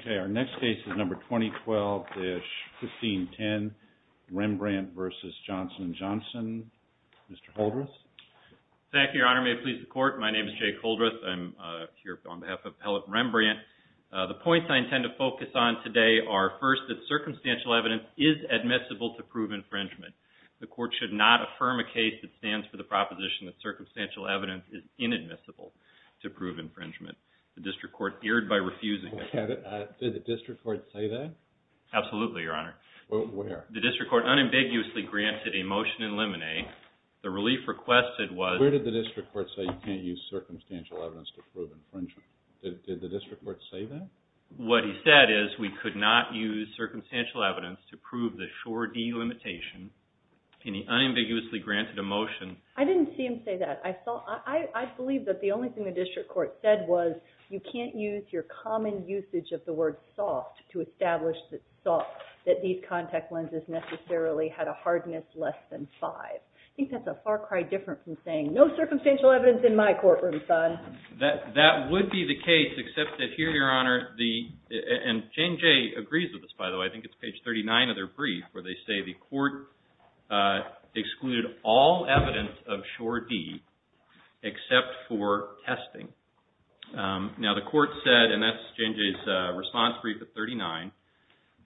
Okay, our next case is number 2012-1510, Rembrandt v. Johnson & Johnson. Mr. Holdreth? Thank you, Your Honor. May it please the Court? My name is Jake Holdreth. I'm here on behalf of Appellate Rembrandt. The points I intend to focus on today are, first, that circumstantial evidence is admissible to prove infringement. The Court should not affirm a case that stands for the proposition that circumstantial evidence is inadmissible to prove infringement. The District Court erred by refusing it. Did the District Court say that? Absolutely, Your Honor. Where? The District Court unambiguously granted a motion in limine. The relief requested was... Where did the District Court say you can't use circumstantial evidence to prove infringement? Did the District Court say that? What he said is we could not use circumstantial evidence to prove the sure delimitation. And he unambiguously granted a motion. I didn't see him say that. I saw... I believe that the only thing the District Court said was you can't use your common usage of the word soft to establish that soft, that these contact lenses necessarily had a hardness less than 5. I think that's a far cry different from saying, no circumstantial evidence in my courtroom, son. That would be the case, except that here, Your Honor, the... and Jane Jay agrees with this, by the way. I think it's page 39 of their brief where they say the Court excluded all evidence of sure deed except for testing. Now the Court said, and that's Jane Jay's response brief at 39,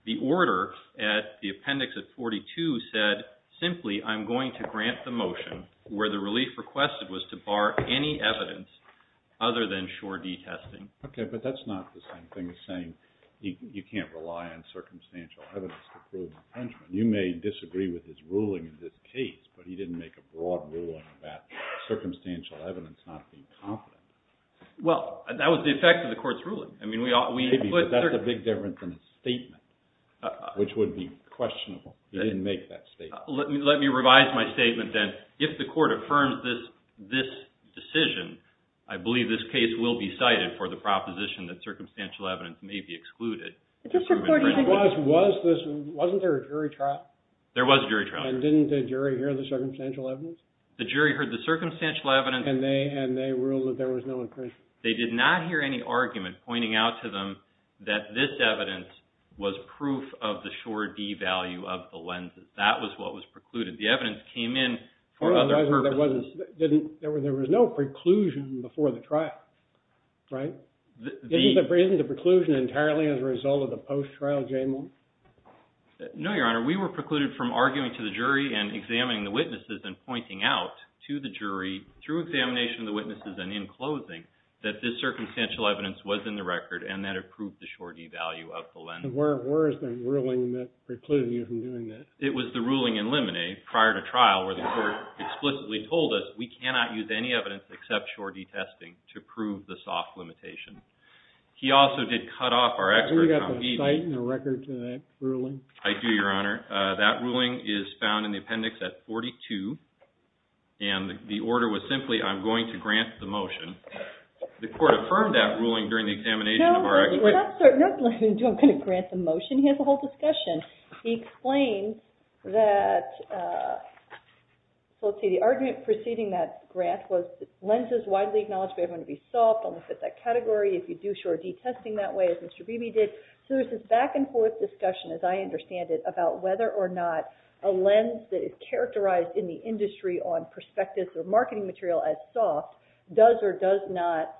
the order at the appendix at 42 said, simply, I'm going to grant the motion where the relief requested was to bar any evidence other than sure deed testing. Okay, but that's not the same thing as saying you can't rely on circumstantial evidence to prove infringement. You may disagree with his ruling in this case, but he didn't make a broad ruling about circumstantial evidence not being confident. Well, that was the effect of the Court's ruling. I mean, we... But that's a big difference in his statement, which would be questionable. He didn't make that statement. Let me revise my statement then. If the Court affirms this decision, I believe this case will be cited for the proposition that circumstantial evidence may be excluded. Was this... wasn't there a jury trial? There was a jury trial. And didn't the jury hear the circumstantial evidence? The jury heard the circumstantial evidence. And they ruled that there was no infringement. They did not hear any argument pointing out to them that this evidence was proof of the sure deed value of the lenses. That was what was precluded. The evidence came in for other purposes. There was no preclusion before the trial, right? Isn't the preclusion entirely as a result of the post-trial jailment? No, Your Honor. Your Honor, we were precluded from arguing to the jury and examining the witnesses and pointing out to the jury, through examination of the witnesses and in closing, that this circumstantial evidence was in the record and that it proved the sure deed value of the lenses. And where is the ruling that precluded you from doing that? It was the ruling in limine, prior to trial, where the Court explicitly told us, we cannot use any evidence except sure deed testing to prove the soft limitation. He also did cut off our expert... Do you have a cite and a record to that ruling? I do, Your Honor. That ruling is found in the appendix at 42. And the order was simply, I'm going to grant the motion. The Court affirmed that ruling during the examination of our... No, we're not going to grant the motion. He has the whole discussion. He explained that, so let's see, the argument preceding that grant was lenses widely acknowledged, we have them to be soft, don't fit that category. If you do sure deed testing that way, as Mr. Beebe did. So there's this back-and-forth discussion, as I understand it, about whether or not a lens that is characterized in the industry on prospectus or marketing material as soft does or does not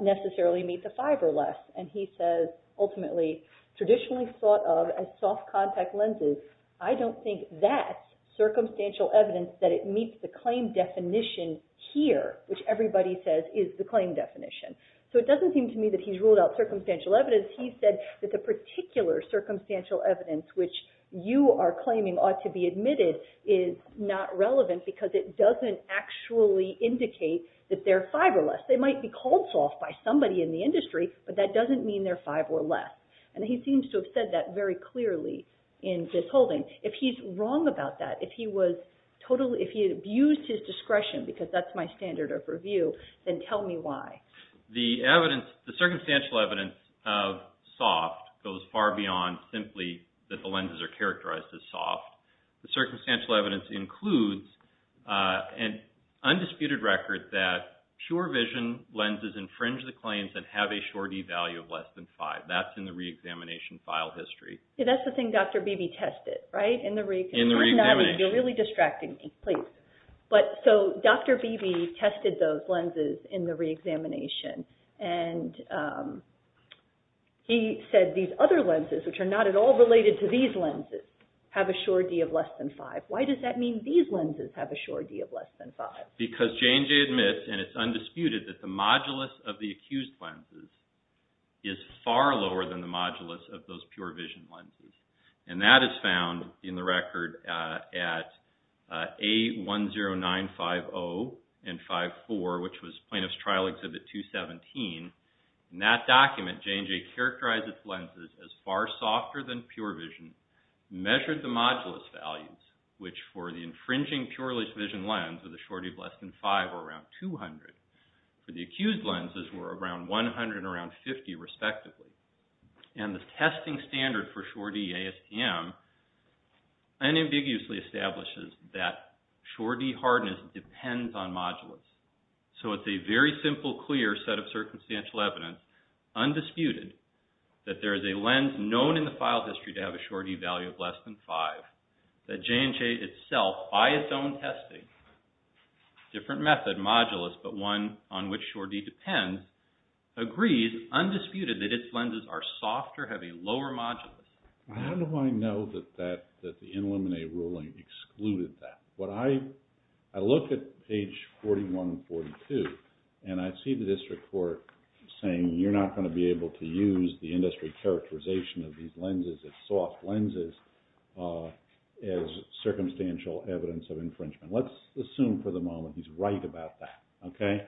necessarily meet the five or less. And he says, ultimately, traditionally thought of as soft contact lenses, I don't think that's circumstantial evidence that it meets the claim definition here, which everybody says is the claim definition. So it doesn't seem to me that he's ruled out circumstantial evidence. Because he said that the particular circumstantial evidence which you are claiming ought to be admitted is not relevant because it doesn't actually indicate that they're five or less. They might be called soft by somebody in the industry, but that doesn't mean they're five or less. And he seems to have said that very clearly in this holding. If he's wrong about that, if he abused his discretion, because that's my standard of review, then tell me why. The circumstantial evidence of soft goes far beyond simply that the lenses are characterized as soft. The circumstantial evidence includes an undisputed record that pure vision lenses infringe the claims and have a surety value of less than five. That's in the reexamination file history. Yeah, that's the thing Dr. Beebe tested, right? In the reexamination. You're really distracting me. So Dr. Beebe tested those lenses in the reexamination. And he said these other lenses, which are not at all related to these lenses, have a surety of less than five. Why does that mean these lenses have a surety of less than five? Because J&J admits, and it's undisputed, that the modulus of the accused lenses is far lower than the modulus of those pure vision lenses. And that is found in the record at A10950 and 54, which was Plaintiff's Trial Exhibit 217. In that document, J&J characterized its lenses as far softer than pure vision, measured the modulus values, which for the infringing pure vision lens with a surety of less than five were around 200. For the accused lenses were around 100 and around 50 respectively. And the testing standard for surety ASTM unambiguously establishes that surety hardness depends on modulus. So it's a very simple, clear set of circumstantial evidence, undisputed, that there is a lens known in the file history to have a surety value of less than five, that J&J itself, by its own testing, different method, modulus, but one on which surety depends, agrees, undisputed, that its lenses are softer, have a lower modulus. How do I know that the Illuminate ruling excluded that? When I look at page 4142, and I see the district court saying, you're not going to be able to use the industry characterization of these lenses, its soft lenses, as circumstantial evidence of infringement. Let's assume for the moment he's right about that, okay?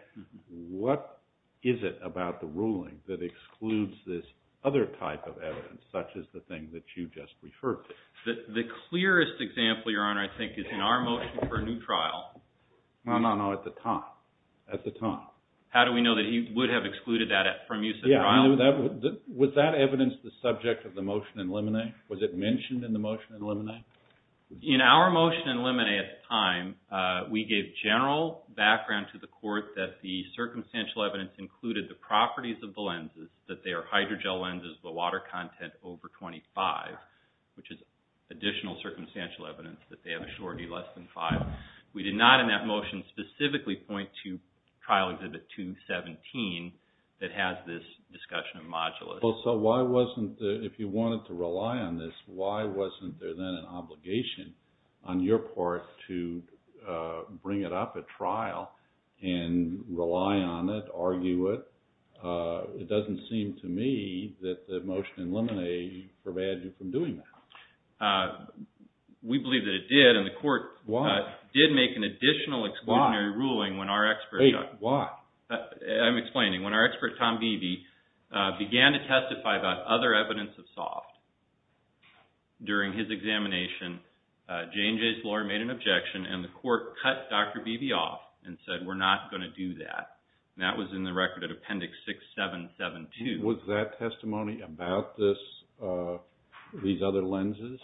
What is it about the ruling that excludes this other type of evidence, such as the thing that you just referred to? The clearest example, Your Honor, I think is in our motion for a new trial. No, no, no, at the time, at the time. How do we know that he would have excluded that from use of the trial? Yeah, was that evidence the subject of the motion in Illuminate? Was it mentioned in the motion in Illuminate? In our motion in Illuminate at the time, we gave general background to the court that the circumstantial evidence included the properties of the lenses, that they are hydrogel lenses with a water content over 25, which is additional circumstantial evidence that they have a surety less than 5. We did not in that motion specifically point to Trial Exhibit 217 that has this discussion of modulus. So why wasn't, if you wanted to rely on this, why wasn't there then an obligation on your part to bring it up at trial and rely on it, argue it? It doesn't seem to me that the motion in Illuminate forbade you from doing that. We believe that it did, and the court did make an additional exclusionary ruling when our expert... Wait, why? I'm explaining. When our expert, Tom Beebe, began to testify about other evidence of soft, during his examination, J&J's lawyer made an objection, and the court cut Dr. Beebe off and said, we're not going to do that. That was in the record at Appendix 6772. Was that testimony about these other lenses?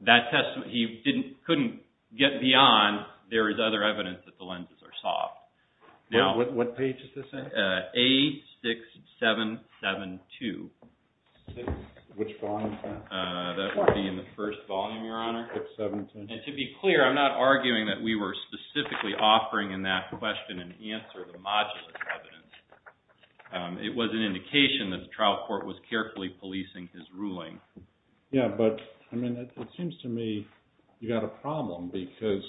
That testimony, he couldn't get beyond, there is other evidence that the lenses are soft. What page is this in? A6772. Which volume is that? That would be in the first volume, Your Honor. And to be clear, I'm not arguing that we were specifically offering in that question an answer to the modulus evidence. It was an indication that the trial court was carefully policing his ruling. Yeah, but it seems to me you've got a problem because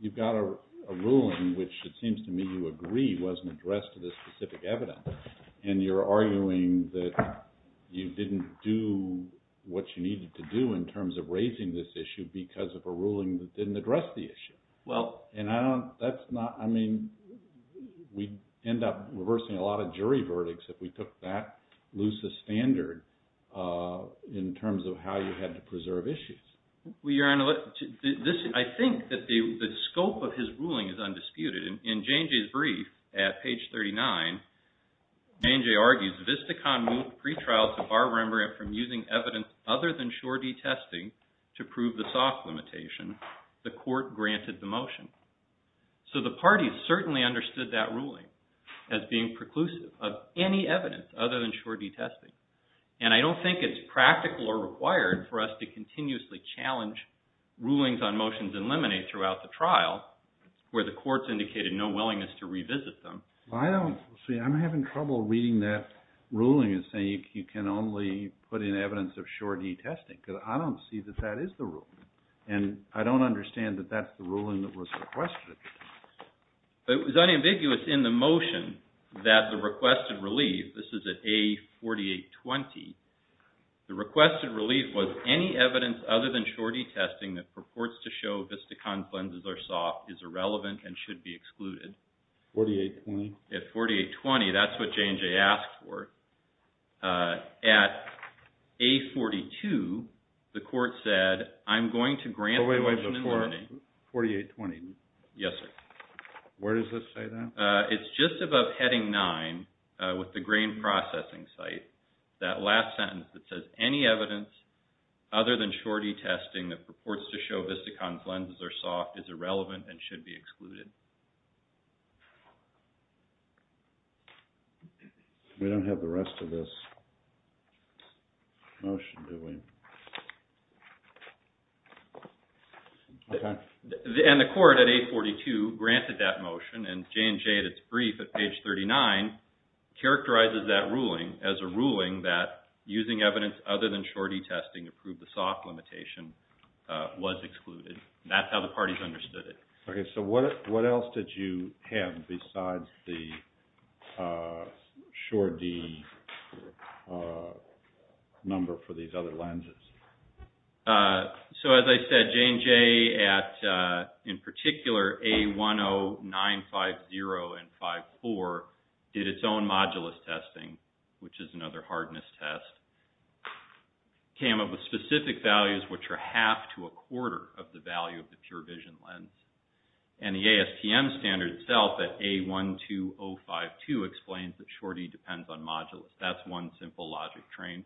you've got a ruling, which it seems to me you agree wasn't addressed to the specific evidence, and you're arguing that you didn't do what you needed to do in terms of raising this issue because of a ruling that didn't address the issue. Well... And I don't, that's not, I mean, we end up reversing a lot of jury verdicts if we took that loose a standard in terms of how you had to preserve issues. Well, Your Honor, I think that the scope of his ruling is undisputed. In Jane Jay's brief at page 39, Jane Jay argues, Vistacon moved pretrials to bar Rembrandt from using evidence other than sure D testing to prove the soft limitation. The court granted the motion. So the parties certainly understood that ruling as being preclusive of any evidence other than sure D testing. And I don't think it's practical or required for us to continuously challenge rulings on motions in limine throughout the trial where the courts indicated no willingness to revisit them. I don't, see, I'm having trouble reading that ruling and saying you can only put in evidence of sure D testing because I don't see that that is the rule. And I don't understand that that's the ruling that was requested. It was unambiguous in the motion that the requested relief, this is at A4820, the requested relief was any evidence other than sure D testing that purports to show Vistacon's lenses are soft is irrelevant and should be excluded. 4820? At 4820, that's what Jane Jay asked for. At A42, the court said, I'm going to grant the motion in limine. 4820? Yes, sir. Where does this say that? It's just above heading nine with the grain processing site. That last sentence that says any evidence other than sure D testing that purports to show Vistacon's lenses are soft is irrelevant and should be excluded. We don't have the rest of this motion, do we? Okay. And the court at A42 granted that motion and Jane Jay at its brief at page 39 characterizes that ruling as a ruling that using evidence other than sure D testing to prove the soft limitation was excluded. That's how the parties understood it. Okay. So what else did you have besides the sure D number for these other lenses? So as I said, Jane Jay at, in particular, A10950 and 54 did its own modulus testing, which is another hardness test. Came up with specific values, which are half to a quarter of the value of the pure vision lens. And the ASTM standard itself at A12052 explains that sure D depends on modulus. That's one simple logic train.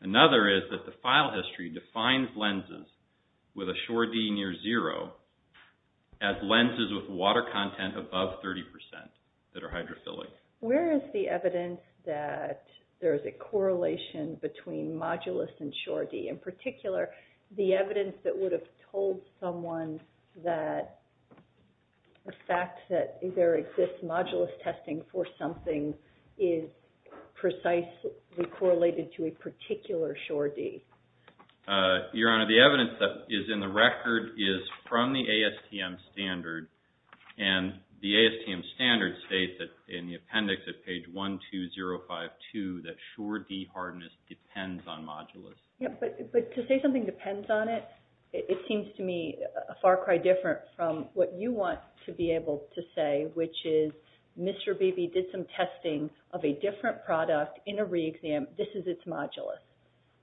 Another is that the file history defines lenses with a sure D near zero as lenses with water content above 30% that are hydrophilic. Where is the evidence that there is a correlation between modulus and sure D? In particular, the evidence that would have told someone that the fact that there exists modulus testing for something is precisely correlated to a particular sure D? Your Honor, the evidence that is in the record is from the ASTM standard. And the ASTM standard states that in the appendix at page 12052 that sure D hardness depends on modulus. Yeah, but to say something depends on it, it seems to me far cry different from what you want to be able to say, which is Mr. Beebe did some testing of a different product in a re-exam. This is its modulus.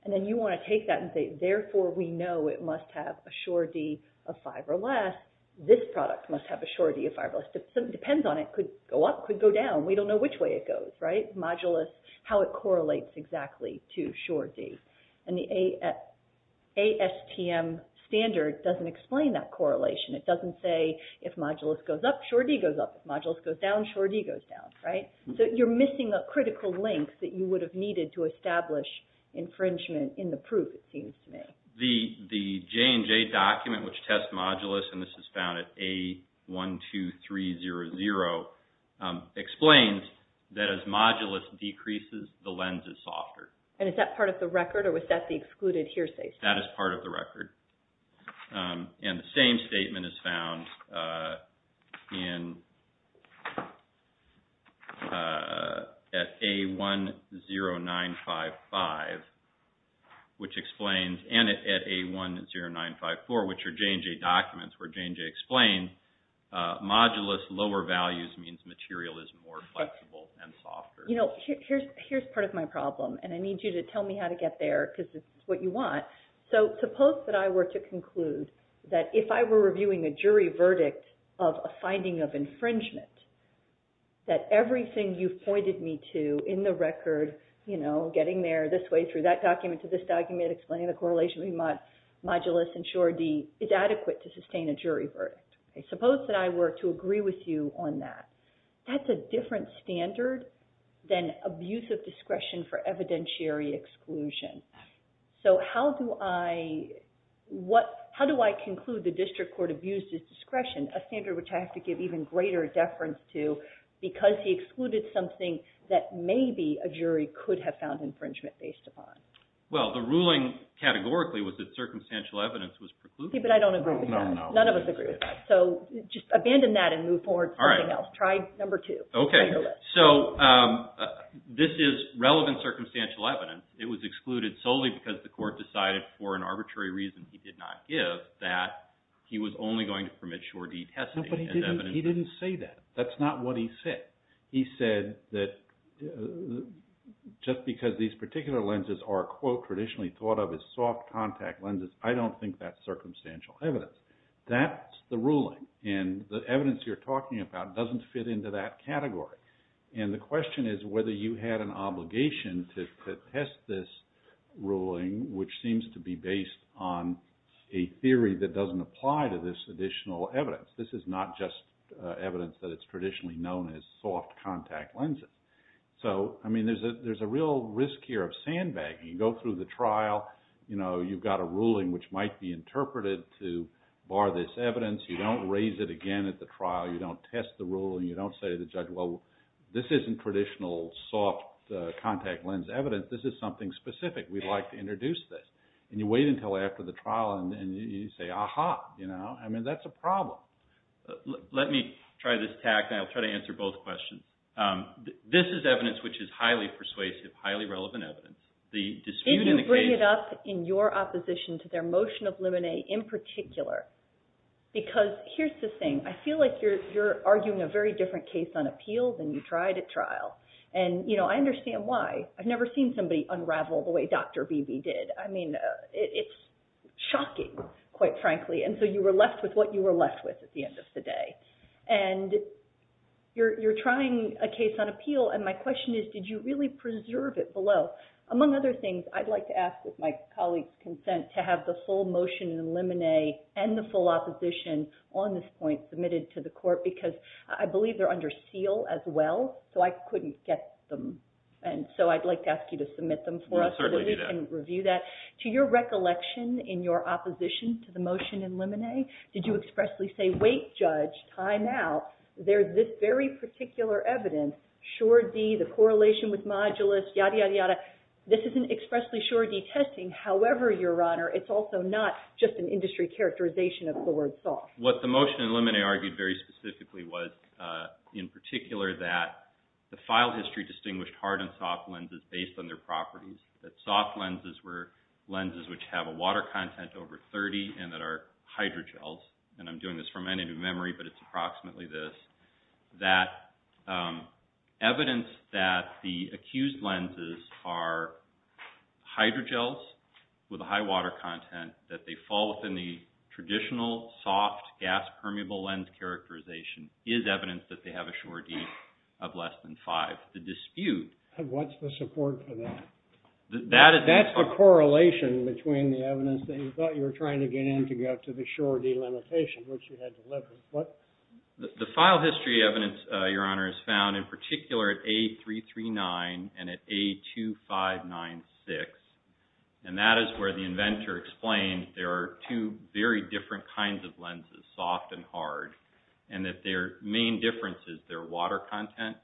And then you want to take that and say, therefore we know it must have a sure D of five or less. This product must have a sure D of five or less. Depends on it. Could go up, could go down. We don't know which way it goes, right? Modulus, how it correlates exactly to sure D. And the ASTM standard doesn't explain that correlation. It doesn't say if modulus goes up, sure D goes up. If modulus goes down, sure D goes down, right? So you're missing a critical link that you would have needed to establish infringement in the proof, it seems to me. The J&J document, which tests modulus, and this is found at A12300, explains that as modulus decreases, the lens is softer. And is that part of the record or was that the excluded hearsay statement? That is part of the record. And the same statement is found at A10955, which explains, and at A10954, which are J&J documents where J&J explains, modulus lower values means material is more flexible and softer. You know, here's part of my problem, and I need you to tell me how to get there because it's what you want. So suppose that I were to conclude that if I were reviewing a jury verdict of a finding of infringement, that everything you've pointed me to in the record, you know, getting there this way through that document to this document, explaining the correlation between modulus and sure D, is adequate to sustain a jury verdict. Suppose that I were to agree with you on that. That's a different standard than abuse of discretion for evidentiary exclusion. So how do I conclude the district court abused his discretion, a standard which I have to give even greater deference to, because he excluded something that maybe a jury could have found infringement based upon? Well, the ruling, categorically, was that circumstantial evidence was precluded. But I don't agree with that. None of us agree with that. So just abandon that and move forward to something else. All right. Try number two. Okay. So this is relevant circumstantial evidence. It was excluded solely because the court decided, for an arbitrary reason he did not give, that he was only going to permit sure D testing. No, but he didn't say that. That's not what he said. He said that just because these particular lenses are, quote, traditionally thought of as soft contact lenses, I don't think that's circumstantial evidence. That's the ruling. And the evidence you're talking about doesn't fit into that category. And the question is whether you had an obligation to test this ruling, which seems to be based on a theory that doesn't apply to this additional evidence. This is not just evidence that it's traditionally known as soft contact lenses. So, I mean, there's a real risk here of sandbagging. You go through the trial, you know, you've got a ruling which might be interpreted to bar this evidence. You don't raise it again at the trial. You don't test the ruling. You don't say to the judge, well, this isn't traditional soft contact lens evidence. This is something specific. We'd like to introduce this. And you wait until after the trial, and then you say, ah-ha, you know. I mean, that's a problem. Let me try this tact, and I'll try to answer both questions. This is evidence which is highly persuasive, highly relevant evidence. If you bring it up in your opposition to their motion of limine in particular, because here's the thing. I feel like you're arguing a very different case on appeal than you tried at trial. And, you know, I understand why. I've never seen somebody unravel the way Dr. Beebe did. I mean, it's shocking, quite frankly. And so you were left with what you were left with at the end of the day. And you're trying a case on appeal, and my question is, did you really preserve it below? Among other things, I'd like to ask, with my colleague's consent, to have the full motion in limine and the full opposition on this point submitted to the court, because I believe they're under seal as well, so I couldn't get them. And so I'd like to ask you to submit them for us so that we can review that. To your recollection in your opposition to the motion in limine, did you expressly say, wait, Judge, time out. There's this very particular evidence, sure D, the correlation with modulus, yada, yada, yada. This isn't expressly sure D testing. However, Your Honor, it's also not just an industry characterization of the word soft. What the motion in limine argued very specifically was, in particular, that the file history distinguished hard and soft lenses based on their properties. That soft lenses were lenses which have a water content over 30 and that are hydrogels. And I'm doing this from my native memory, but it's approximately this. That evidence that the accused lenses are hydrogels with a high water content that they fall within the traditional soft gas permeable lens characterization is evidence that they have a sure D of less than 5. The dispute... What's the support for that? That's the correlation between the evidence that you thought you were trying to get in to get to the sure D limitation, which you had delivered. The file history evidence, Your Honor, is found in particular at A339 and at A2596. And that is where the inventor explains there are two very different kinds of lenses, soft and hard, and that their main difference is their water content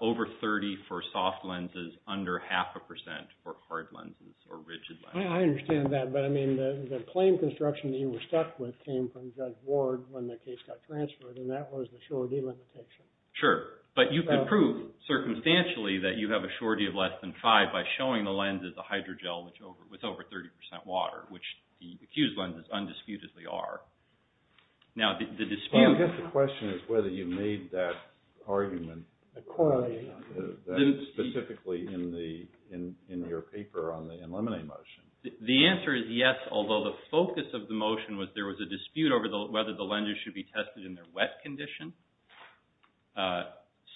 over 30 for soft lenses, under half a percent for hard lenses or rigid lenses. I understand that, but I mean, the claim construction that you were stuck with came from Judge Ward when the case got transferred and that was the sure D limitation. Sure. But you could prove circumstantially that you have a sure D of less than 5 by showing the lenses a hydrogel with over 30% water, which the accused lenses undisputedly are. Now, the dispute... I guess the question is whether you made that argument... Accordingly. ...specifically in your paper on the NLemonade motion. The answer is yes, although the focus of the motion was there was a dispute over whether the lenses should be tested in their wet condition.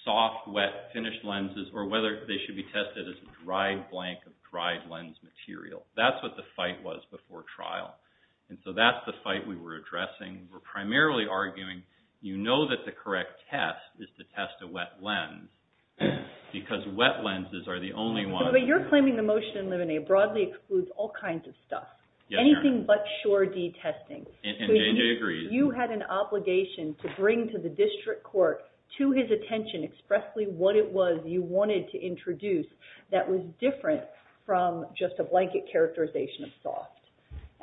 Soft, wet, finished lenses, or whether they should be tested as a dry blank of dried lens material. That's what the fight was before trial. And so that's the fight we were addressing. We're primarily arguing, you know that the correct test is to test a wet lens because wet lenses are the only ones... But you're claiming the motion in Lemonade broadly excludes all kinds of stuff. Yes, ma'am. Anything but sure D testing. And JJ agrees. You had an obligation to bring to the district court to his attention expressly what it was you wanted to introduce that was different from just a blanket characterization of soft.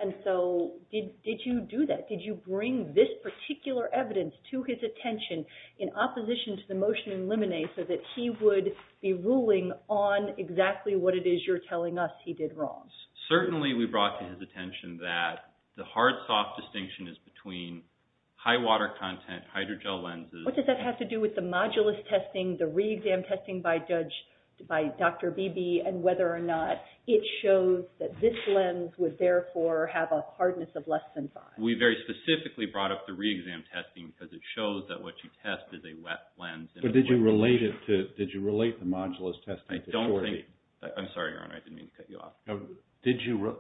And so did you do that? Did you bring this particular evidence to his attention in opposition to the motion in Lemonade so that he would be ruling on exactly what it is you're telling us he did wrong? Certainly we brought to his attention that the hard soft distinction is between high water content, hydrogel lenses... What does that have to do with the modulus testing, the re-exam testing by Dr. Beebe, and whether or not it shows that this lens would therefore have a hardness of less than 5? We very specifically brought up the re-exam testing because it shows that what you test is a wet lens. But did you relate it to... Did you relate the modulus testing to... I don't think... I'm sorry, Your Honor, I didn't mean to cut you off.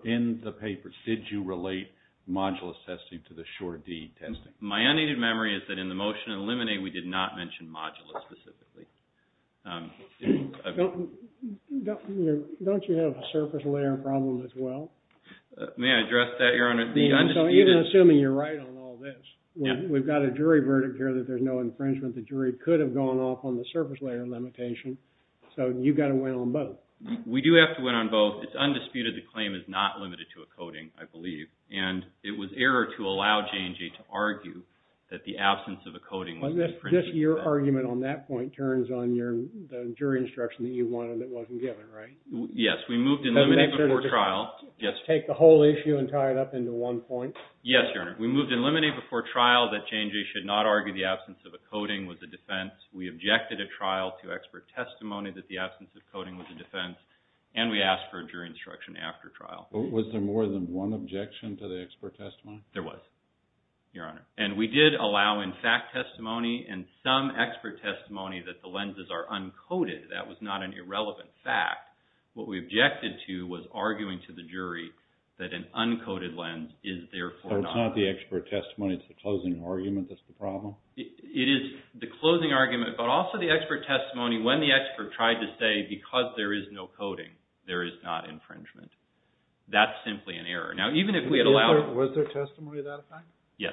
In the papers, did you relate modulus testing to the Sure-D testing? My unneeded memory is that in the motion in Lemonade we did not mention modulus specifically. Don't you have a surface layer problem as well? May I address that, Your Honor? Even assuming you're right on all this, we've got a jury verdict here that there's no infringement. The jury could have gone off on the surface layer limitation. So you've got to win on both. We do have to win on both. It's undisputed the claim is not limited to a coding, I believe. And it was error to allow J&J to argue that the absence of a coding was an infringement. But just your argument on that point turns on the jury instruction that you wanted that wasn't given, right? Yes, we moved in Lemonade before trial. Take the whole issue and tie it up into one point. Yes, Your Honor. We moved in Lemonade before trial that J&J should not argue the absence of a coding was a defense. We objected at trial to expert testimony that the absence of coding was a defense. And we asked for a jury instruction after trial. Was there more than one objection to the expert testimony? There was, Your Honor. And we did allow in fact testimony and some expert testimony that the lenses are uncoded. That was not an irrelevant fact. What we objected to was arguing to the jury that an uncoded lens is therefore not... So it's not the expert testimony, it's the closing argument that's the problem? It is the closing argument, but also the expert testimony when the expert tried to say because there is no coding, there is not infringement. That's simply an error. Now, even if we had allowed... Was there testimony of that effect? Yes.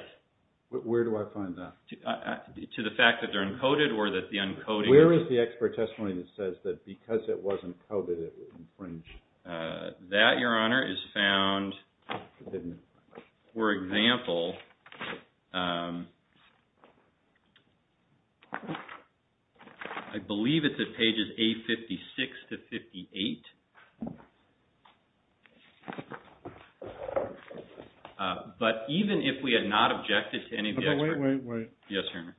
Where do I find that? To the fact that they're uncoded or that the uncoding... Where is the expert testimony that says that because it wasn't coded, it was infringed? That, Your Honor, is found... For example... I believe it's at pages A56 to 58. But even if we had not objected to any of the experts... Wait, wait, wait. Yes, Your Honor.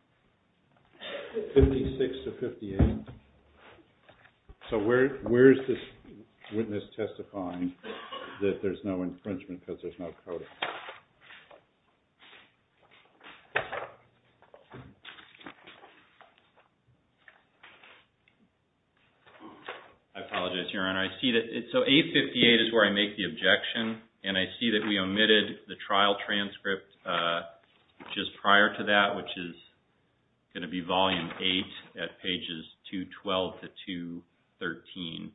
56 to 58. So where is this witness testifying that there's no infringement because there's no coding? I apologize, Your Honor. I see that... So A58 is where I make the objection, and I see that we omitted the trial transcript just prior to that, which is going to be volume 8 at pages 212 to 213.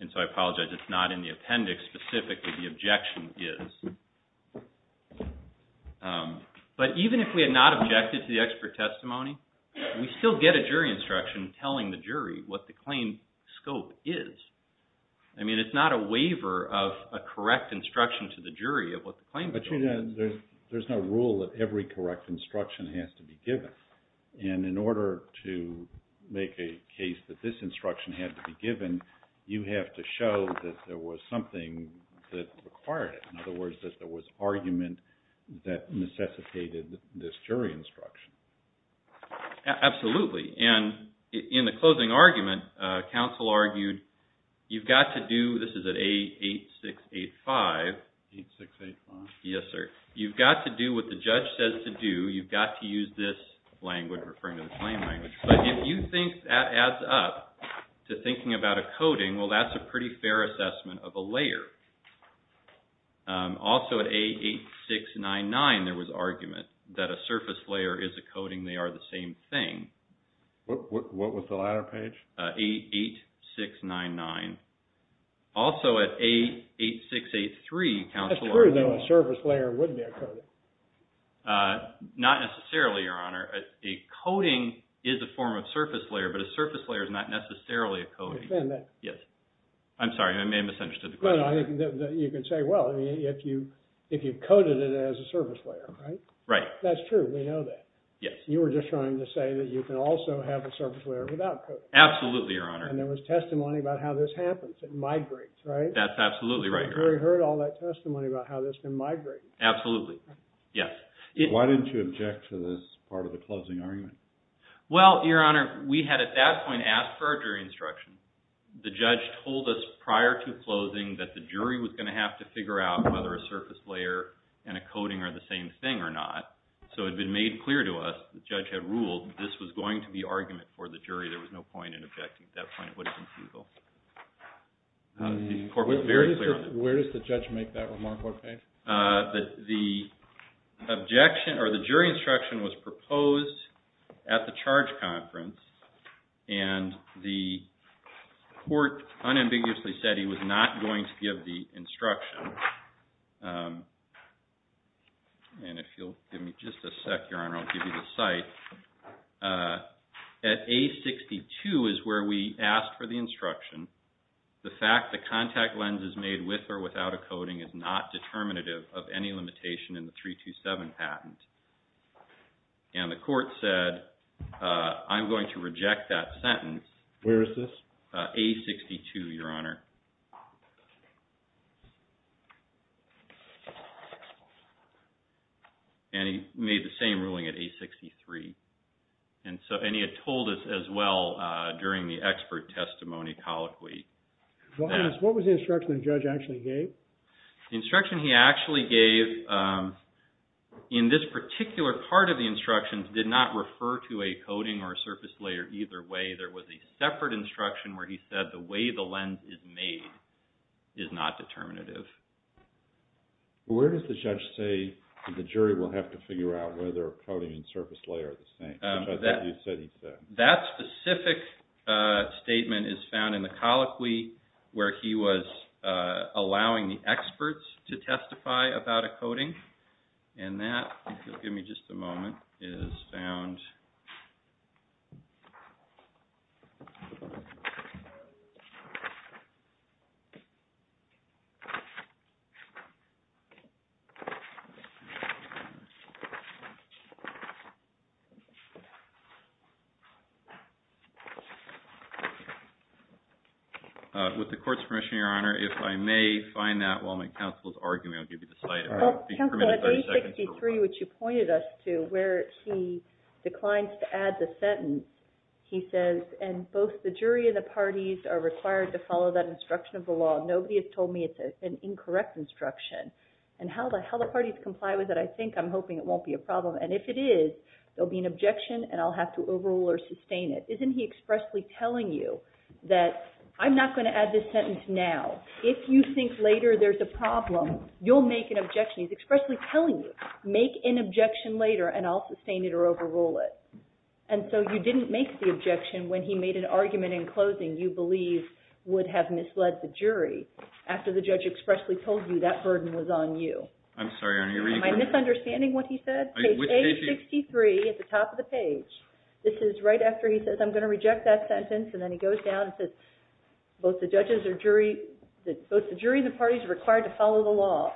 And so I apologize. It's not in the appendix specifically. The objection is. But even if we had not... Even if we had not objected to the expert testimony, we still get a jury instruction telling the jury what the claim scope is. I mean, it's not a waiver of a correct instruction to the jury of what the claim scope is. But, Your Honor, there's no rule that every correct instruction has to be given. And in order to make a case that this instruction had to be given, you have to show that there was something that required it. In other words, that there was argument that necessitated this jury instruction. Absolutely. And in the closing argument, counsel argued you've got to do... This is at A8685. A8685. Yes, sir. You've got to do what the judge says to do. You've got to use this language referring to the claim language. But if you think that adds up to thinking about a coding, well, that's a pretty fair assessment of a layer. Also, at A8699, there was argument that a surface layer is a coding. They are the same thing. What was the latter page? A8699. Also, at A8683, counsel argued... That's true, though. A surface layer would be a coding. Not necessarily, Your Honor. A coding is a form of surface layer, but a surface layer is not necessarily a coding. Yes. I'm sorry. I may have misunderstood the question. No, no. You can say, well, if you coded it as a surface layer, right? Right. That's true. We know that. Yes. You were just trying to say that you can also have a surface layer without coding. Absolutely, Your Honor. And there was testimony about how this happens. It migrates, right? That's absolutely right, Your Honor. We heard all that testimony about how this can migrate. Absolutely. Yes. Why didn't you object to this part of the closing argument? Well, Your Honor, we had at that point asked for a jury instruction. The judge told us prior to closing that the jury was going to have to figure out whether a surface layer and a coding are the same thing or not. So it had been made clear to us, the judge had ruled, this was going to be argument for the jury. There was no point in objecting at that point. It would have been feasible. The court was very clear on that. Where does the judge make that remark? What page? The objection or the jury instruction was proposed at the charge conference, and the court unambiguously said he was not going to give the instruction. And if you'll give me just a sec, Your Honor, I'll give you the cite. At A62 is where we asked for the instruction. The fact the contact lens is made with or without a coding is not determinative of any limitation in the 327 patent. And the court said, I'm going to reject that sentence. Where is this? A62, Your Honor. And he made the same ruling at A63. And he had told us as well during the expert testimony colloquy. What was the instruction the judge actually gave? The instruction he actually gave in this particular part of the instruction did not refer to a coding or a surface layer either way. There was a separate instruction where he said the way the lens is made is not determinative. Where does the judge say the jury will have to figure out whether a coding and surface layer are the same? Which I thought you said he said. That specific statement is found in the colloquy where he was allowing the experts to testify about a coding. And that, if you'll give me just a moment, is found. With the court's permission, Your Honor, if I may find that while my counsel is arguing, I'll give you the slide. Counsel, at A63, which you pointed us to, where he declines to add the sentence, he says, and both the jury and the parties are required to follow that instruction of the law. Nobody has told me it's an incorrect instruction. And how the parties comply with it, I think I'm hoping it won't be a problem. And if it is, there'll be an objection and I'll have to overrule or sustain it. Isn't he expressly telling you that I'm not going to add this sentence now. If you think later there's a problem, you'll make an objection. He's expressly telling you, make an objection later and I'll sustain it or overrule it. And so you didn't make the objection when he made an argument in closing you believe would have misled the jury after the judge expressly told you that burden was on you. I'm sorry, Your Honor. Am I misunderstanding what he said? Case A63, at the top of the page, this is right after he says I'm going to reject that sentence and then he goes down and says both the jury and the parties are required to follow the law.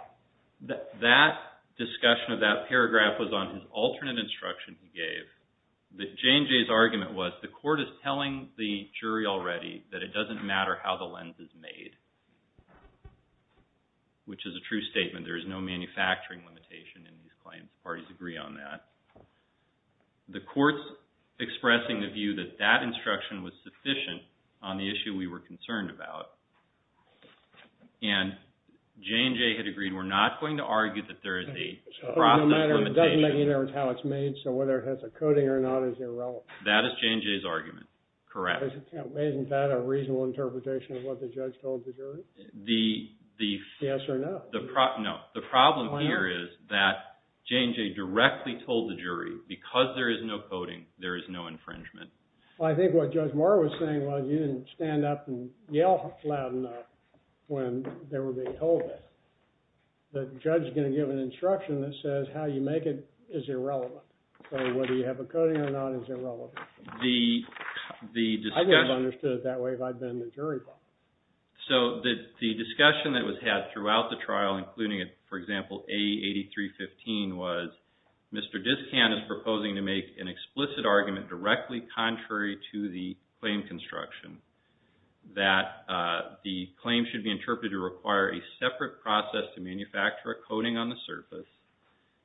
That discussion of that paragraph was on his alternate instruction he gave. J&J's argument was the court is telling the jury already that it doesn't matter how the lens is made, which is a true statement. There is no manufacturing limitation in these claims. Parties agree on that. The court's expressing the view that that instruction was sufficient on the issue we were concerned about. And J&J had agreed we're not going to argue that there is a process limitation. It doesn't matter how it's made, so whether it has a coding or not is irrelevant. That is J&J's argument, correct. Isn't that a reasonable interpretation of what the judge told the jury? Yes or no. No. The problem here is that J&J directly told the jury because there is no coding, there is no infringement. Well, I think what Judge Moore was saying was you didn't stand up and yell loud enough when they were being told that. The judge is going to give an instruction that says how you make it is irrelevant. So whether you have a coding or not is irrelevant. I wouldn't have understood it that way if I'd been the jury public. So the discussion that was had throughout the trial, including, for example, A8315, was Mr. Discan is proposing to make an explicit argument directly contrary to the claim construction that the claim should be interpreted to require a separate process to manufacture a coding on the surface.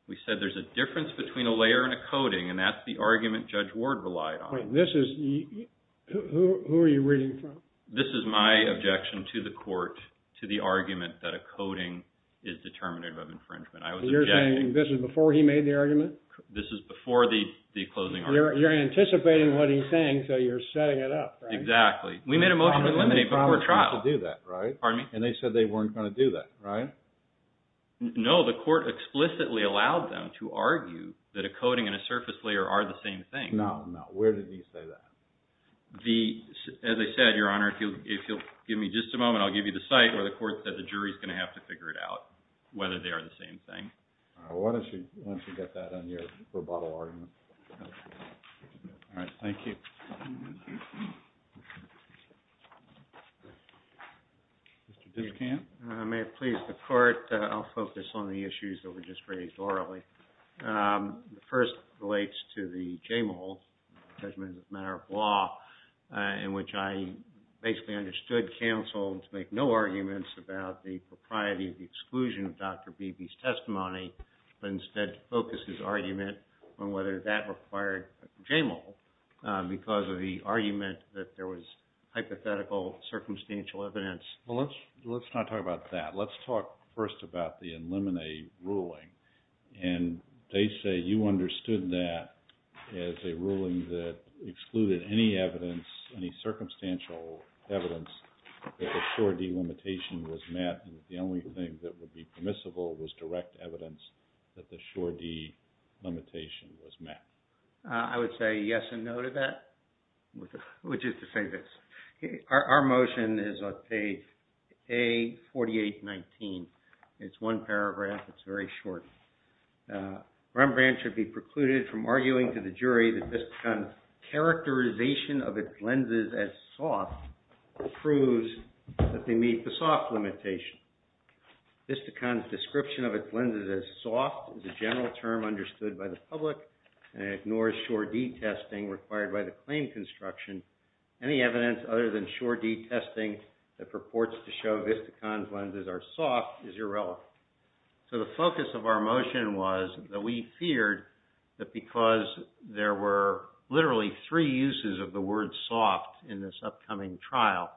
We said there's a difference between a layer and a coding, and that's the argument Judge Ward relied on. Who are you reading from? This is my objection to the court to the argument that a coding is determinative of infringement. You're saying this is before he made the argument? This is before the closing argument. You're anticipating what he's saying, so you're setting it up, right? Exactly. We made a motion to eliminate before trial. And they said they weren't going to do that, right? No, the court explicitly allowed them to argue that a coding and a surface layer are the same thing. No, no. Where did he say that? As I said, Your Honor, if you'll give me just a moment, I'll give you the site where the court said the jury's going to have to figure it out whether they are the same thing. Why don't you get that on your rebuttal argument? All right, thank you. Mr. Dishkant? May it please the court, I'll focus on the issues that were just raised orally. The first relates to the JMOL, Judgment as a Matter of Law, in which I basically understood counsel to make no arguments about the propriety or the exclusion of Dr. Beebe's testimony, but instead to focus his argument on whether that required JMOL because of the argument that there was hypothetical circumstantial evidence. Well, let's not talk about that. Let's talk first about the eliminate ruling. And they say you understood that as a ruling that excluded any evidence, any circumstantial evidence, that the sure delimitation was met and the only thing that would be permissible was direct evidence that the sure delimitation was met. I would say yes and no to that, which is to say this. Our motion is on page A4819. It's one paragraph, it's very short. Rembrandt should be precluded from arguing to the jury that Vistacon's characterization of its lenses as soft proves that they meet the soft limitation. Vistacon's description of its lenses as soft is a general term understood by the public and ignores sure detesting required by the claim construction. Any evidence other than sure detesting that purports to show Vistacon's lenses are soft is irrelevant. So the focus of our motion was that we feared that because there were literally three uses of the word soft in this upcoming trial,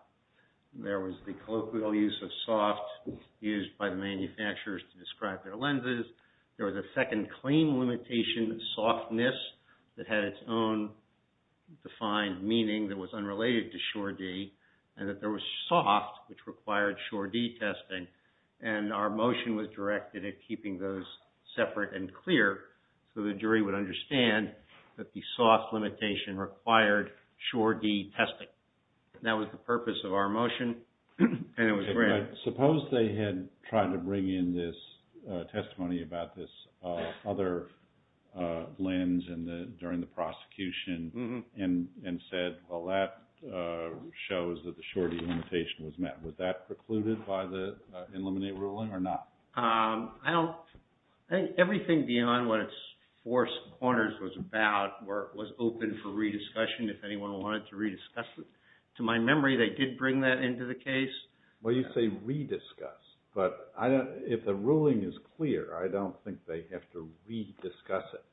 there was the colloquial use of soft used by the manufacturers to describe their lenses, there was a second claim limitation, softness, that had its own defined meaning that was unrelated to sure D, and that there was soft, which required sure detesting. And our motion was directed at keeping those separate and clear so the jury would understand that the soft limitation required sure detesting. That was the purpose of our motion, and it was granted. Suppose they had tried to bring in this testimony about this other lens during the prosecution and said, well, that shows that the sure D limitation was met. Was that precluded by the Illuminate ruling or not? I think everything beyond what its four corners was about was open for re-discussion. If anyone wanted to re-discuss it, to my memory, they did bring that into the case. Well, you say re-discuss, but if the ruling is clear, I don't think they have to re-discuss it.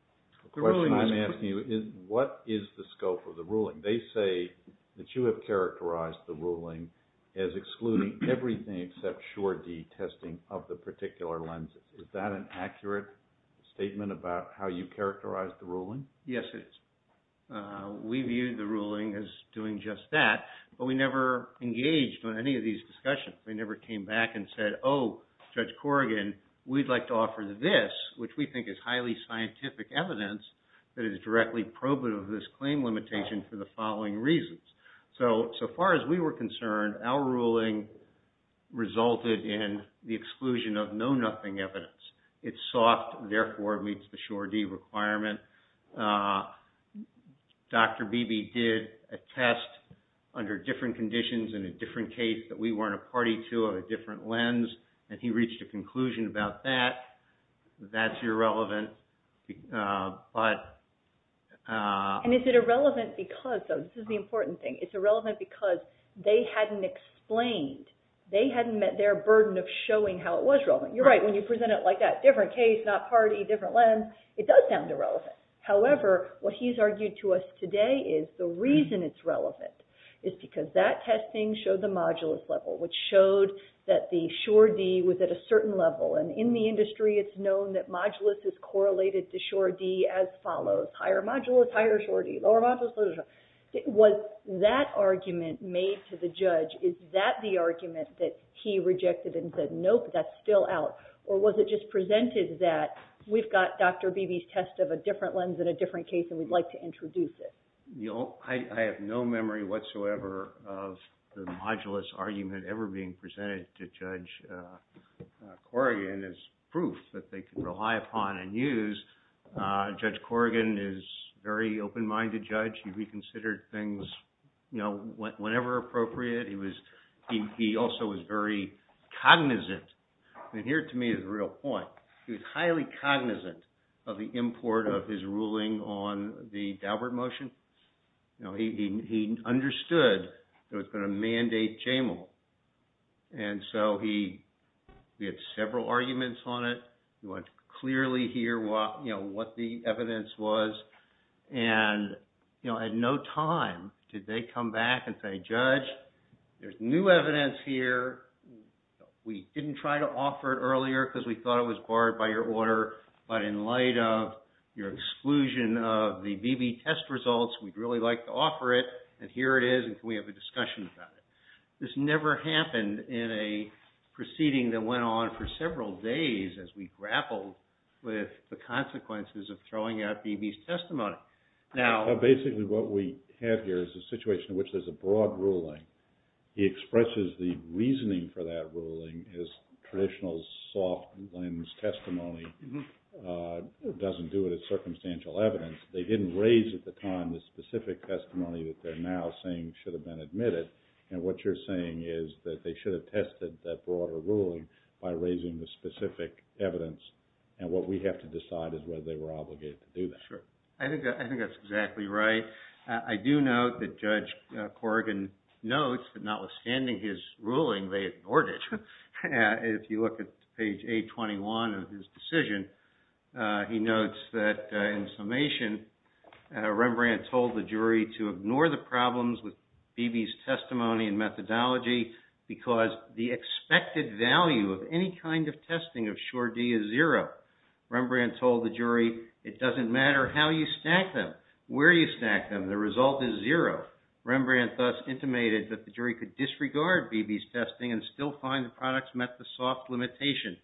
The question I'm asking you is what is the scope of the ruling? They say that you have characterized the ruling as excluding everything except sure detesting of the particular lenses. Is that an accurate statement about how you characterized the ruling? Yes, it is. We viewed the ruling as doing just that, but we never engaged in any of these discussions. We never came back and said, oh, Judge Corrigan, we'd like to offer this, which we think is highly scientific evidence, that is directly probative of this claim limitation for the following reasons. So far as we were concerned, our ruling resulted in the exclusion of know-nothing evidence. It's soft, therefore it meets the sure D requirement. Dr. Beebe did a test under different conditions in a different case that we weren't a party to of a different lens, and he reached a conclusion about that. That's irrelevant, but... And is it irrelevant because, though? This is the important thing. It's irrelevant because they hadn't explained. They hadn't met their burden of showing how it was relevant. You're right. When you present it like that, different case, not party, different lens, it does sound irrelevant. However, what he's argued to us today is the reason it's relevant is because that testing showed the modulus level, which showed that the sure D was at a certain level, and in the industry it's known that modulus is correlated to sure D as follows. Higher modulus, higher sure D. Lower modulus, lower sure D. Was that argument made to the judge? Is that the argument that he rejected and said, nope, that's still out? Or was it just presented that we've got Dr. Beebe's test of a different lens in a different case, and we'd like to introduce it? I have no memory whatsoever of the modulus argument ever being presented to Judge Corrigan as proof that they could rely upon and use. Judge Corrigan is a very open-minded judge. He reconsidered things whenever appropriate. He also was very cognizant. And here, to me, is the real point. He was highly cognizant of the import of his ruling on the Daubert motion. He understood it was going to mandate JAMAL. And so he had several arguments on it. He wanted to clearly hear what the evidence was. And at no time did they come back and say, Judge, there's new evidence here. We didn't try to offer it earlier because we thought it was barred by your order. But in light of your exclusion of the Beebe test results, we'd really like to offer it. And here it is, and can we have a discussion about it? This never happened in a proceeding that went on for several days as we grappled with the consequences of throwing out Beebe's testimony. Now, basically what we have here is a situation in which there's a broad ruling. He expresses the reasoning for that ruling. His traditional soft-lens testimony doesn't do it as circumstantial evidence. They didn't raise at the time the specific testimony that they're now saying should have been admitted. And what you're saying is that they should have tested that broader ruling by raising the specific evidence. And what we have to decide is whether they were obligated to do that. I think that's exactly right. I do note that Judge Corrigan notes that notwithstanding his ruling, they ignored it. If you look at page 821 of his decision, he notes that in summation, Rembrandt told the jury to ignore the problems with Beebe's testimony and methodology because the expected value of any kind of testing of Sure-D is zero. Rembrandt told the jury, it doesn't matter how you stack them, where you stack them, the result is zero. Rembrandt thus intimated that the jury could disregard Beebe's testing and still find the products met the soft limitation.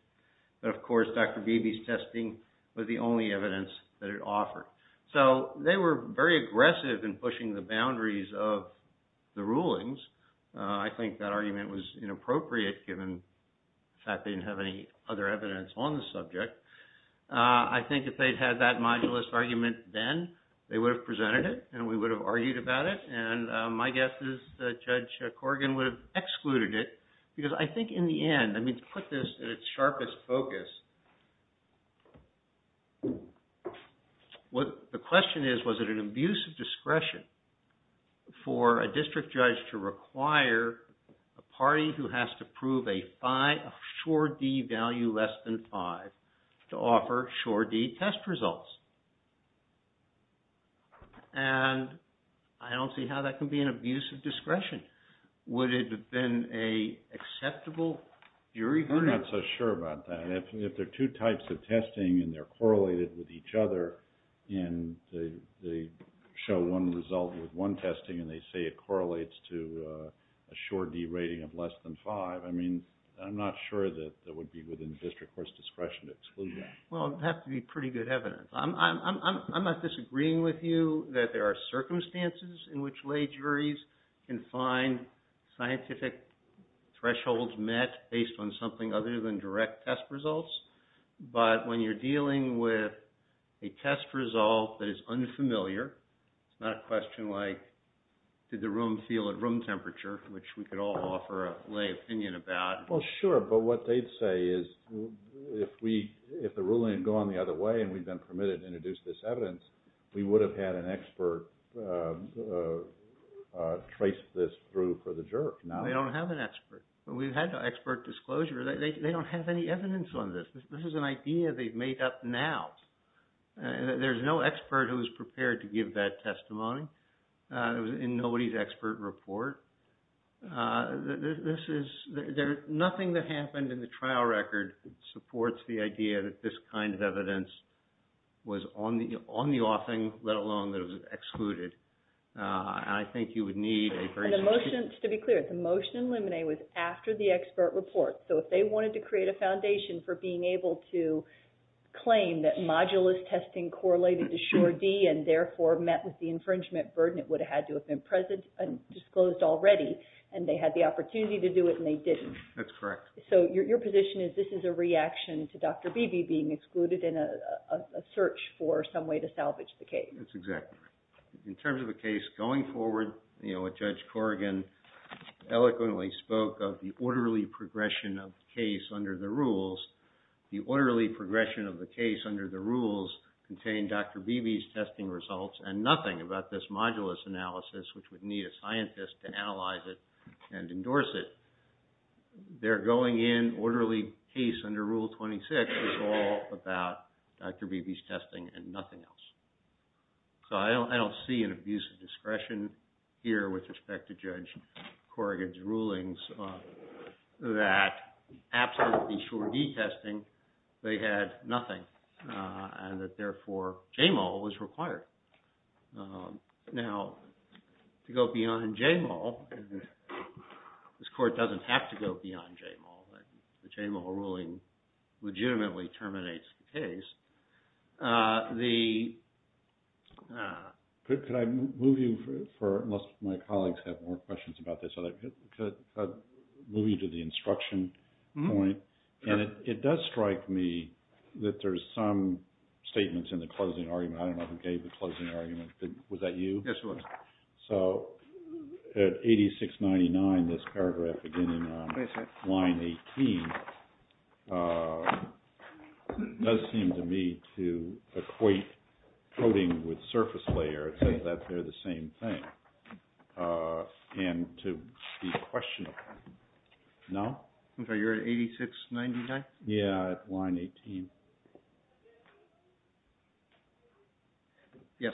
But of course, Dr. Beebe's testing was the only evidence that it offered. So they were very aggressive in pushing the boundaries of the rulings. I think that argument was inappropriate, given the fact they didn't have any other evidence on the subject. I think if they'd had that modulus argument then, they would have presented it and we would have argued about it. And my guess is that Judge Corrigan would have excluded it because I think in the end, I mean, to put this at its sharpest focus, the question is, was it an abuse of discretion for a district judge to require a party who has to prove a Sure-D value less than five to offer Sure-D test results? And I don't see how that can be an abuse of discretion. Would it have been an acceptable jury ruling? I'm not so sure about that. If there are two types of testing and they're correlated with each other and they show one result with one testing and they say it correlates to a Sure-D rating of less than five, I mean, I'm not sure that that would be within district court's discretion to exclude that. Well, it would have to be pretty good evidence. I'm not disagreeing with you that there are circumstances in which lay juries can find scientific thresholds met based on something other than direct test results. But when you're dealing with a test result that is unfamiliar, it's not a question like, did the room feel at room temperature, which we could all offer a lay opinion about. Well, sure. But what they'd say is, if the ruling had gone the other way and we'd been permitted to introduce this evidence, we would have had an expert trace this through for the juror. They don't have an expert. We've had expert disclosure. They don't have any evidence on this. This is an idea they've made up now. There's no expert who is prepared to give that testimony. It was in nobody's expert report. Nothing that happened in the trial record supports the idea that this kind of evidence was on the offing, let alone that it was excluded. I think you would need a very specific… And the motion, to be clear, the motion in Luminae was after the expert report. So if they wanted to create a foundation for being able to claim that modulus testing correlated to sure D and therefore met with the infringement burden, it would have had to have been disclosed already, and they had the opportunity to do it, and they didn't. That's correct. So your position is this is a reaction to Dr. Beebe being excluded in a search for some way to salvage the case. That's exactly right. In terms of a case going forward, what Judge Corrigan eloquently spoke of, the orderly progression of the case under the rules. The orderly progression of the case under the rules contained Dr. Beebe's testing results and nothing about this modulus analysis, which would need a scientist to analyze it and endorse it. Their going in orderly case under Rule 26 is all about Dr. Beebe's testing and nothing else. So I don't see an abuse of discretion here with respect to Judge Corrigan's rulings that absolutely sure D testing, they had nothing, and that therefore JMOL was required. Now, to go beyond JMOL, this court doesn't have to go beyond JMOL. The JMOL ruling legitimately terminates the case. The... Could I move you for, unless my colleagues have more questions about this, could I move you to the instruction point? And it does strike me that there's some statements in the closing argument. I don't know who gave the closing argument. Was that you? Yes, it was. So at 8699, this paragraph again in line 18 does seem to me to equate coding with surface layer. It says that they're the same thing. And to be questionable. No? I'm sorry, you're at 8699? Yeah, line 18. Yes.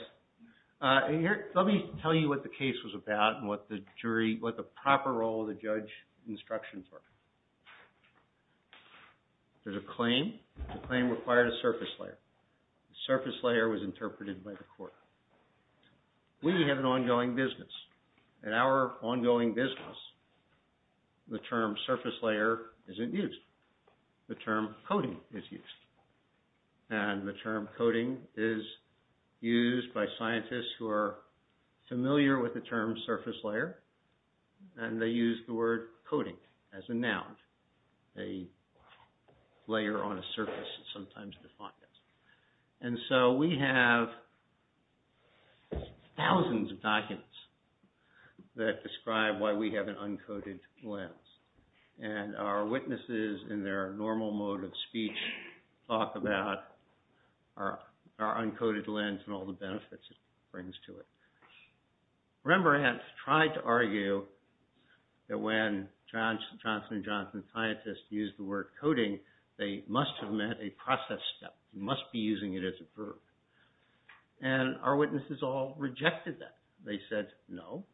Let me tell you what the case was about and what the jury, what the proper role of the judge instructions were. There's a claim. The claim required a surface layer. The surface layer was interpreted by the court. We have an ongoing business. In our ongoing business, the term surface layer isn't used. The term coding is used. And the term coding is used by scientists who are familiar with the term surface layer. And they use the word coding as a noun. A layer on a surface is sometimes defined as. And so we have thousands of documents that describe why we have an uncoded lens. And our witnesses in their normal mode of speech talk about our uncoded lens and all the benefits it brings to it. Remember, I had tried to argue that when Johnson & Johnson scientists used the word coding, they must have meant a process step. You must be using it as a verb. And our witnesses all rejected that. They said, no.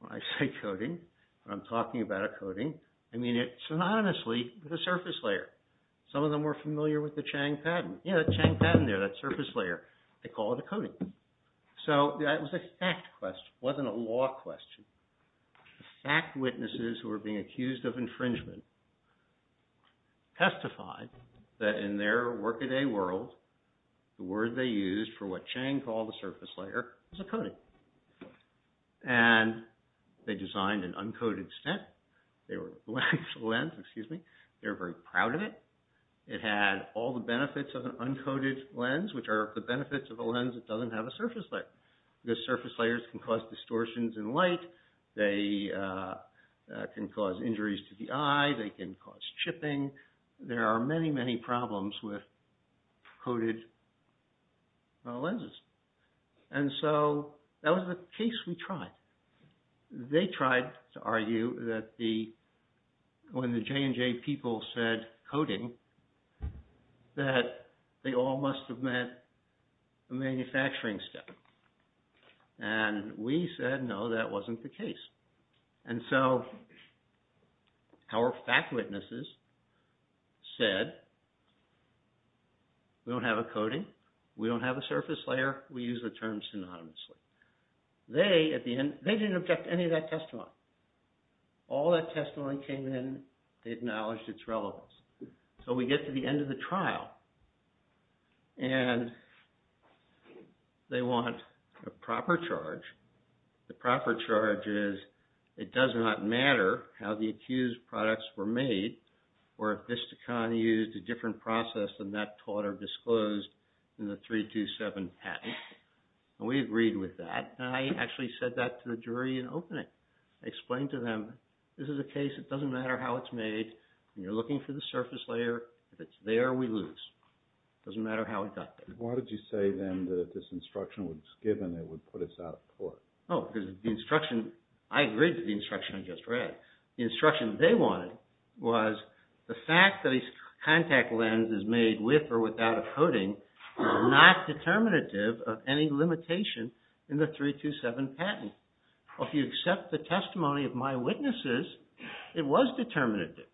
When I say coding, when I'm talking about a coding, I mean it synonymously with a surface layer. Some of them were familiar with the Chang pattern. Yeah, the Chang pattern there, that surface layer. They call it a coding. So that was a fact question. It wasn't a law question. Fact witnesses who were being accused of infringement testified that in their workaday world, the word they used for what Chang called the surface layer was a coding. And they designed an uncoded stent. They were, lens, excuse me, they were very proud of it. It had all the benefits of an uncoded lens, which are the benefits of a lens that doesn't have a surface layer. The surface layers can cause distortions in light. They can cause injuries to the eye. They can cause chipping. There are many, many problems with coded lenses. And so that was the case we tried. They tried to argue that the, when the J&J people said coding, that they all must have meant a manufacturing step. And we said, no, that wasn't the case. And so our fact witnesses said, we don't have a coding. We don't have a surface layer. We use the term synonymously. They, at the end, they didn't object to any of that testimony. All that testimony came in, they acknowledged its relevance. So we get to the end of the trial. And they want a proper charge. The proper charge is, it does not matter how the accused products were made, or if Vistacon used a different process than that taught or disclosed in the 327 patent. And we agreed with that. And I actually said that to the jury in opening. I explained to them, this is a case, it doesn't matter how it's made. And you're looking for the surface layer. If it's there, we lose. It doesn't matter how we got there. Why did you say then that if this instruction was given, it would put us out of court? Oh, because the instruction, I agreed with the instruction I just read. The instruction they wanted was the fact that a contact lens is made with or without a coding was not determinative of any limitation in the 327 patent. Well, if you accept the testimony of my witnesses, it was determinative.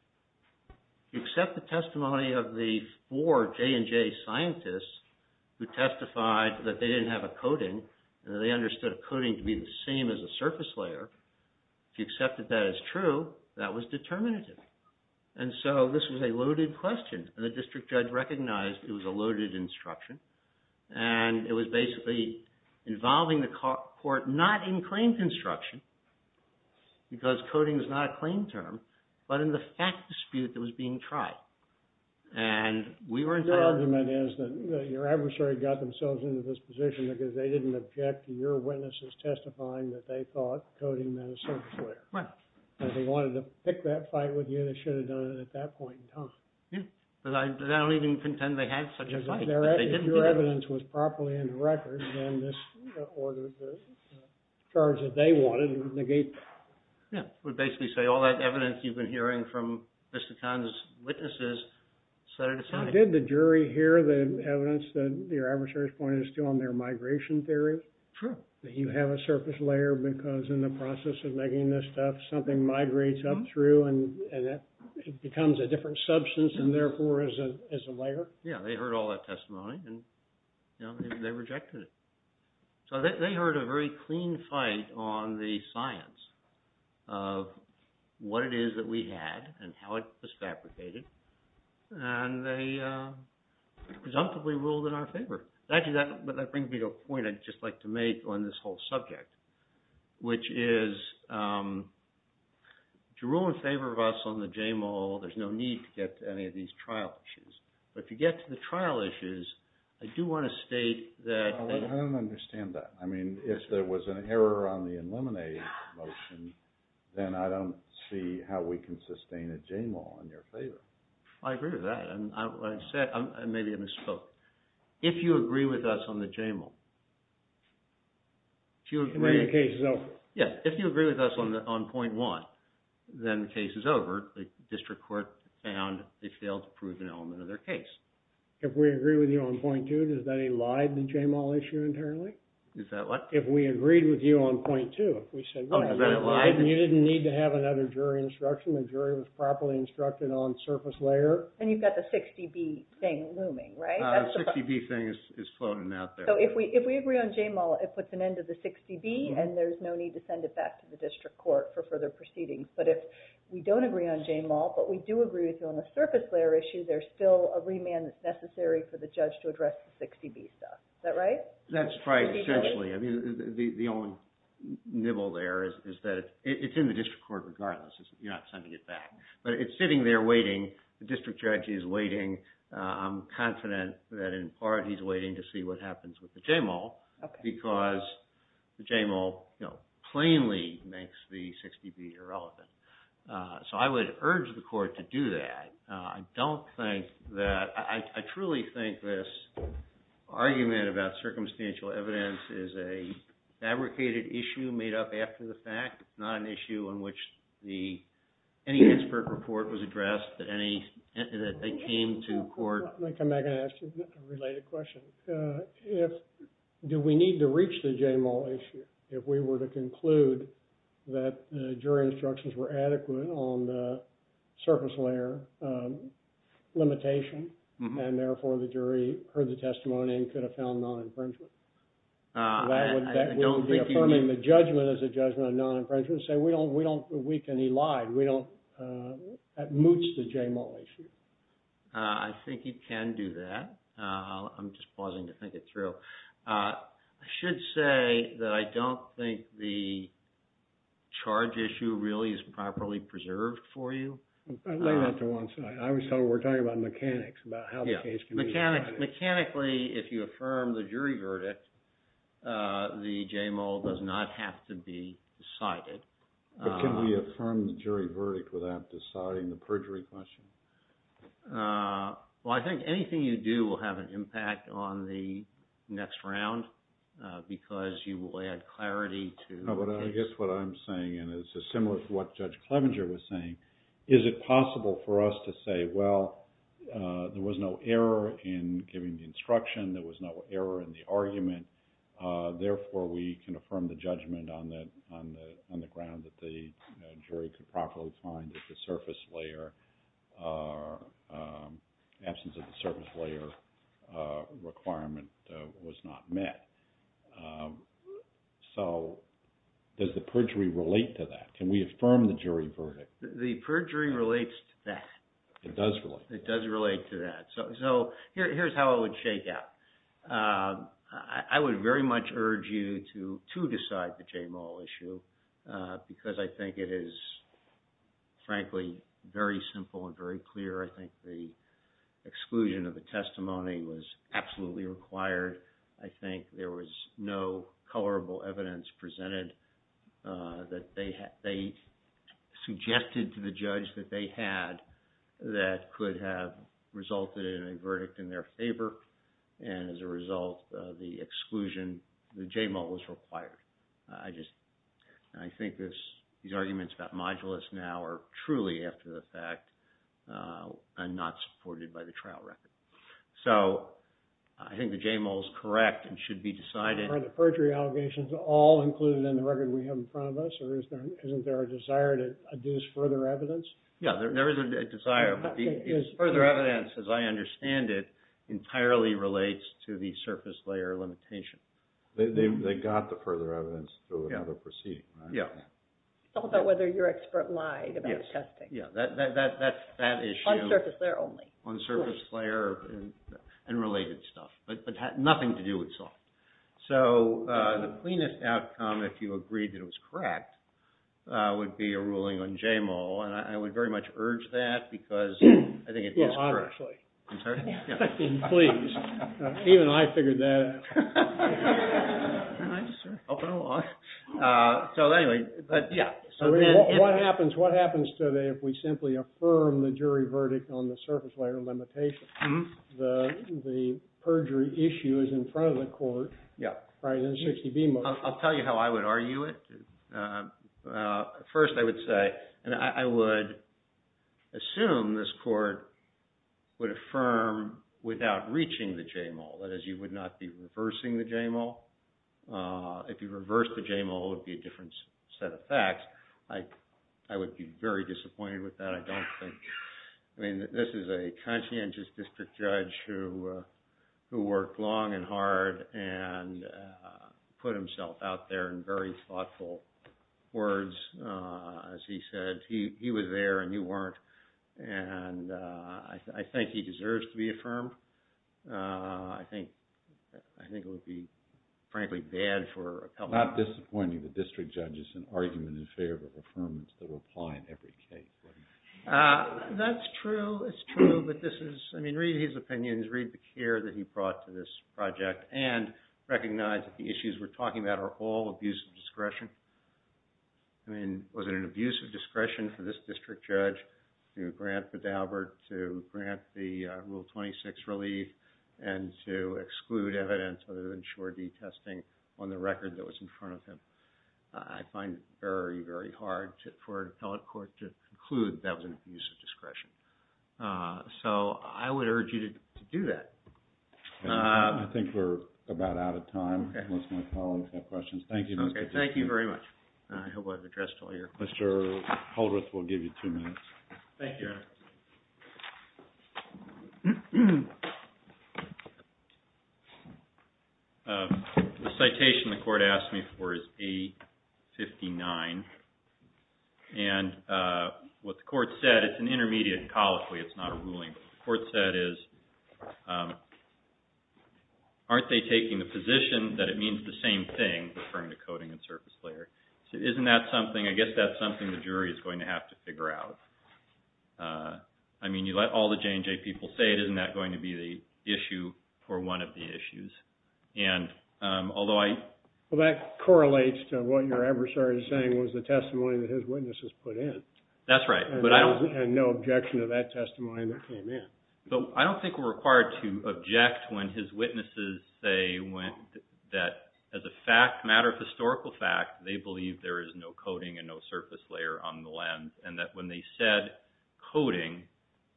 You accept the testimony of the four J&J scientists who testified that they didn't have a coding, and they understood a coding to be the same as a surface layer. If you accepted that as true, that was determinative. And so this was a loaded question. And the district judge recognized it was a loaded instruction. And it was basically involving the court not in claim construction, because coding is not a claim term, but in the fact dispute that was being tried. And we were entitled... Your argument is that your adversary got themselves into this position because they didn't object to your witnesses testifying that they thought coding meant a surface layer. Right. If they wanted to pick that fight with you, they should have done it at that point in time. Yeah. But I don't even contend they had such a fight. If your evidence was properly in the record, or the charge that they wanted, it would negate... Yeah, it would basically say all that evidence you've been hearing from Mr. Kahn's witnesses, set it aside. Did the jury hear the evidence that your adversary's point is still on their migration theory? True. That you have a surface layer because in the process of making this stuff, something migrates up through, and it becomes a different substance, and therefore is a layer? Yeah, they heard all that testimony, and they rejected it. So they heard a very clean fight on the science of what it is that we had, and how it was fabricated, and they presumptively ruled in our favor. Actually, that brings me to a point I'd just like to make on this whole subject, which is to rule in favor of us on the J-MOL, there's no need to get to any of these trial issues. But if you get to the trial issues, I do want to state that... I don't understand that. I mean, if there was an error on the eliminate motion, then I don't see how we can sustain a J-MOL in your favor. I agree with that. And I said, maybe I misspoke. If you agree with us on the J-MOL... If the case is over. Yeah, if you agree with us on point one, then the case is over. The district court found they failed to prove an element of their case. If we agree with you on point two, does that elide the J-MOL issue internally? Is that what? If we agreed with you on point two, if we said... Oh, then it lied? You didn't need to have another jury instruction. The jury was properly instructed on surface layer. And you've got the 60B thing looming, right? The 60B thing is floating out there. So if we agree on J-MOL, it puts an end to the 60B, and there's no need to send it back to the district court for further proceedings. But if we don't agree on J-MOL, but we do agree with you on the surface layer issue, there's still a remand that's necessary for the judge to address the 60B stuff. Is that right? That's right, essentially. I mean, the only nibble there is that it's in the district court regardless. You're not sending it back. But it's sitting there waiting. The district judge is waiting. I'm confident that in part he's waiting to see what happens with the J-MOL because the J-MOL plainly makes the 60B irrelevant. So I would urge the court to do that. I don't think that... I truly think this argument about circumstantial evidence is a fabricated issue made up after the fact. It's not an issue on which any expert report was addressed that they came to court... Let me come back and ask you a related question. Do we need to reach the J-MOL issue if we were to conclude that jury instructions were adequate on the surface layer limitation and therefore the jury heard the testimony and could have found non-infringement? That would be affirming the judgment as a judgment of non-infringement to say we don't weak any lie. That moots the J-MOL issue. I think you can do that. I'm just pausing to think it through. I should say that I don't think the charge issue really is properly preserved for you. Lay that to one side. I was told we're talking about mechanics, about how the case can be decided. Mechanically, if you affirm the jury verdict, the J-MOL does not have to be decided. But can we affirm the jury verdict without deciding the perjury question? Well, I think anything you do will have an impact on the next round because you will add clarity to the case. I guess what I'm saying is similar to what Judge Clevenger was saying. Is it possible for us to say, well, there was no error in giving the instruction, there was no error in the argument, therefore we can affirm the judgment on the ground that the jury could properly find that the absence of the surface layer requirement was not met? So does the perjury relate to that? Can we affirm the jury verdict? The perjury relates to that. It does relate. It does relate to that. So here's how I would shake out. I would very much urge you to decide the J-MOL issue because I think it is, frankly, very simple and very clear. I think the exclusion of the testimony was absolutely required. I think there was no colorable evidence presented that they suggested to the judge that they had that could have resulted in a verdict in their favor and as a result, the exclusion, the J-MOL was required. I think these arguments about modulus now are truly after the fact and not supported by the trial record. So I think the J-MOL is correct and should be decided. Are the perjury allegations all included in the record we have in front of us or isn't there a desire to adduce further evidence? Yeah, there is a desire. But the further evidence, as I understand it, entirely relates to the surface layer limitation. They got the further evidence to another proceeding, right? Yeah. It's all about whether your expert lied about testing. Yeah, that issue. On surface layer only. On surface layer and related stuff. But it had nothing to do with soft. So the cleanest outcome, if you agreed that it was correct, would be a ruling on J-MOL and I would very much urge that because I think it is correct. Yes, honestly. I'm sorry? Please. Even I figured that out. Nice, sir. Helping along. So anyway, but yeah. What happens today if we simply affirm the jury verdict on the surface layer limitation? The perjury issue is in front of the court, right? I'll tell you how I would argue it. First, I would say, and I would assume this court would affirm without reaching the J-MOL. That is, you would not be reversing the J-MOL. If you reverse the J-MOL, it would be a different set of facts. I would be very disappointed with that. I mean, this is a conscientious district judge who worked long and hard and put himself out there in very thoughtful words. As he said, he was there and you weren't. And I think he deserves to be affirmed. I think it would be, frankly, bad for a public... I'm not disappointing the district judges that will apply in every case. That's true. It's true, but this is... I mean, read his opinions, read the care that he brought to this project and recognize that the issues we're talking about are all abuse of discretion. I mean, was it an abuse of discretion for this district judge to grant Bedalbert to grant the Rule 26 relief and to exclude evidence other than sure detesting on the record that was in front of him? I find it very, very hard for an appellate court to conclude that was an abuse of discretion. So I would urge you to do that. I think we're about out of time. Unless my colleagues have questions. Thank you, Mr. Judge. Okay, thank you very much. I hope I've addressed all your questions. Mr. Holdreth will give you two minutes. Thank you. Thank you, Your Honor. The citation the court asked me for is A-59. And what the court said, it's an intermediate and colloquy, it's not a ruling. What the court said is, aren't they taking the position that it means the same thing referring to coding and surface layer? So isn't that something, I guess that's something the jury is going to have to figure out. I mean, you let all the J&J people say it, isn't that going to be the issue for one of the issues? And although I... Well, that correlates to what your adversary is saying was the testimony that his witnesses put in. That's right. And no objection to that testimony that came in. So I don't think we're required to object when his witnesses say that as a matter of historical fact, they believe there is no coding and no surface layer on the lens. And that when they said coding,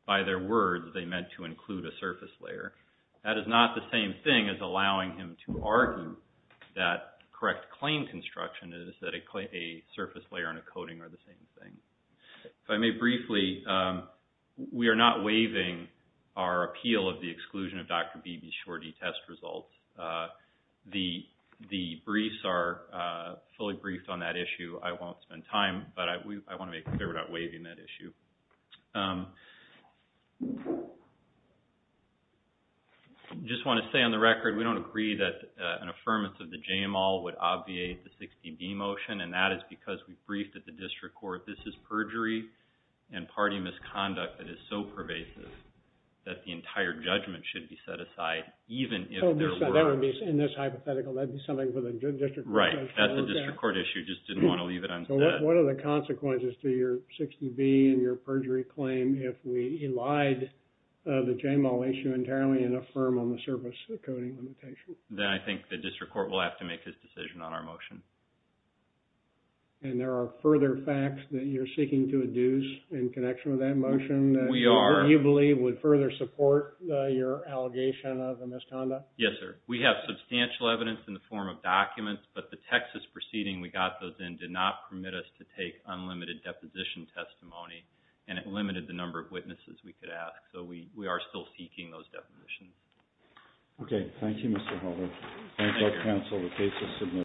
by their words, they meant to include a surface layer. That is not the same thing as allowing him to argue that correct claim construction is that a surface layer and a coding are the same thing. If I may briefly, we are not waiving our appeal of the exclusion of Dr. Beebe's shorty test results. The briefs are fully briefed on that issue. I won't spend time, but I want to make it clear we're not waiving that issue. I just want to say on the record, we don't agree that an affirmance of the JAMAL would obviate the 16B motion, and that is because we briefed at the district court this is perjury and party misconduct that is so pervasive that the entire judgment should be set aside, even if there were... In this hypothetical, that'd be something for the district court... Right, that's a district court issue. We just didn't want to leave it unsaid. What are the consequences to your 16B and your perjury claim if we elide the JAMAL issue entirely and affirm on the surface the coding limitation? Then I think the district court will have to make his decision on our motion. And there are further facts that you're seeking to adduce in connection with that motion? We are... That you believe would further support your allegation of a misconduct? Yes, sir. We have substantial evidence in the form of documents, but the Texas proceeding we got those in did not permit us to take unlimited deposition testimony, and it limited the number of witnesses we could ask, so we are still seeking those depositions. Okay, thank you, Mr. Helder. Thank you. Thank you, counsel. The case is submitted.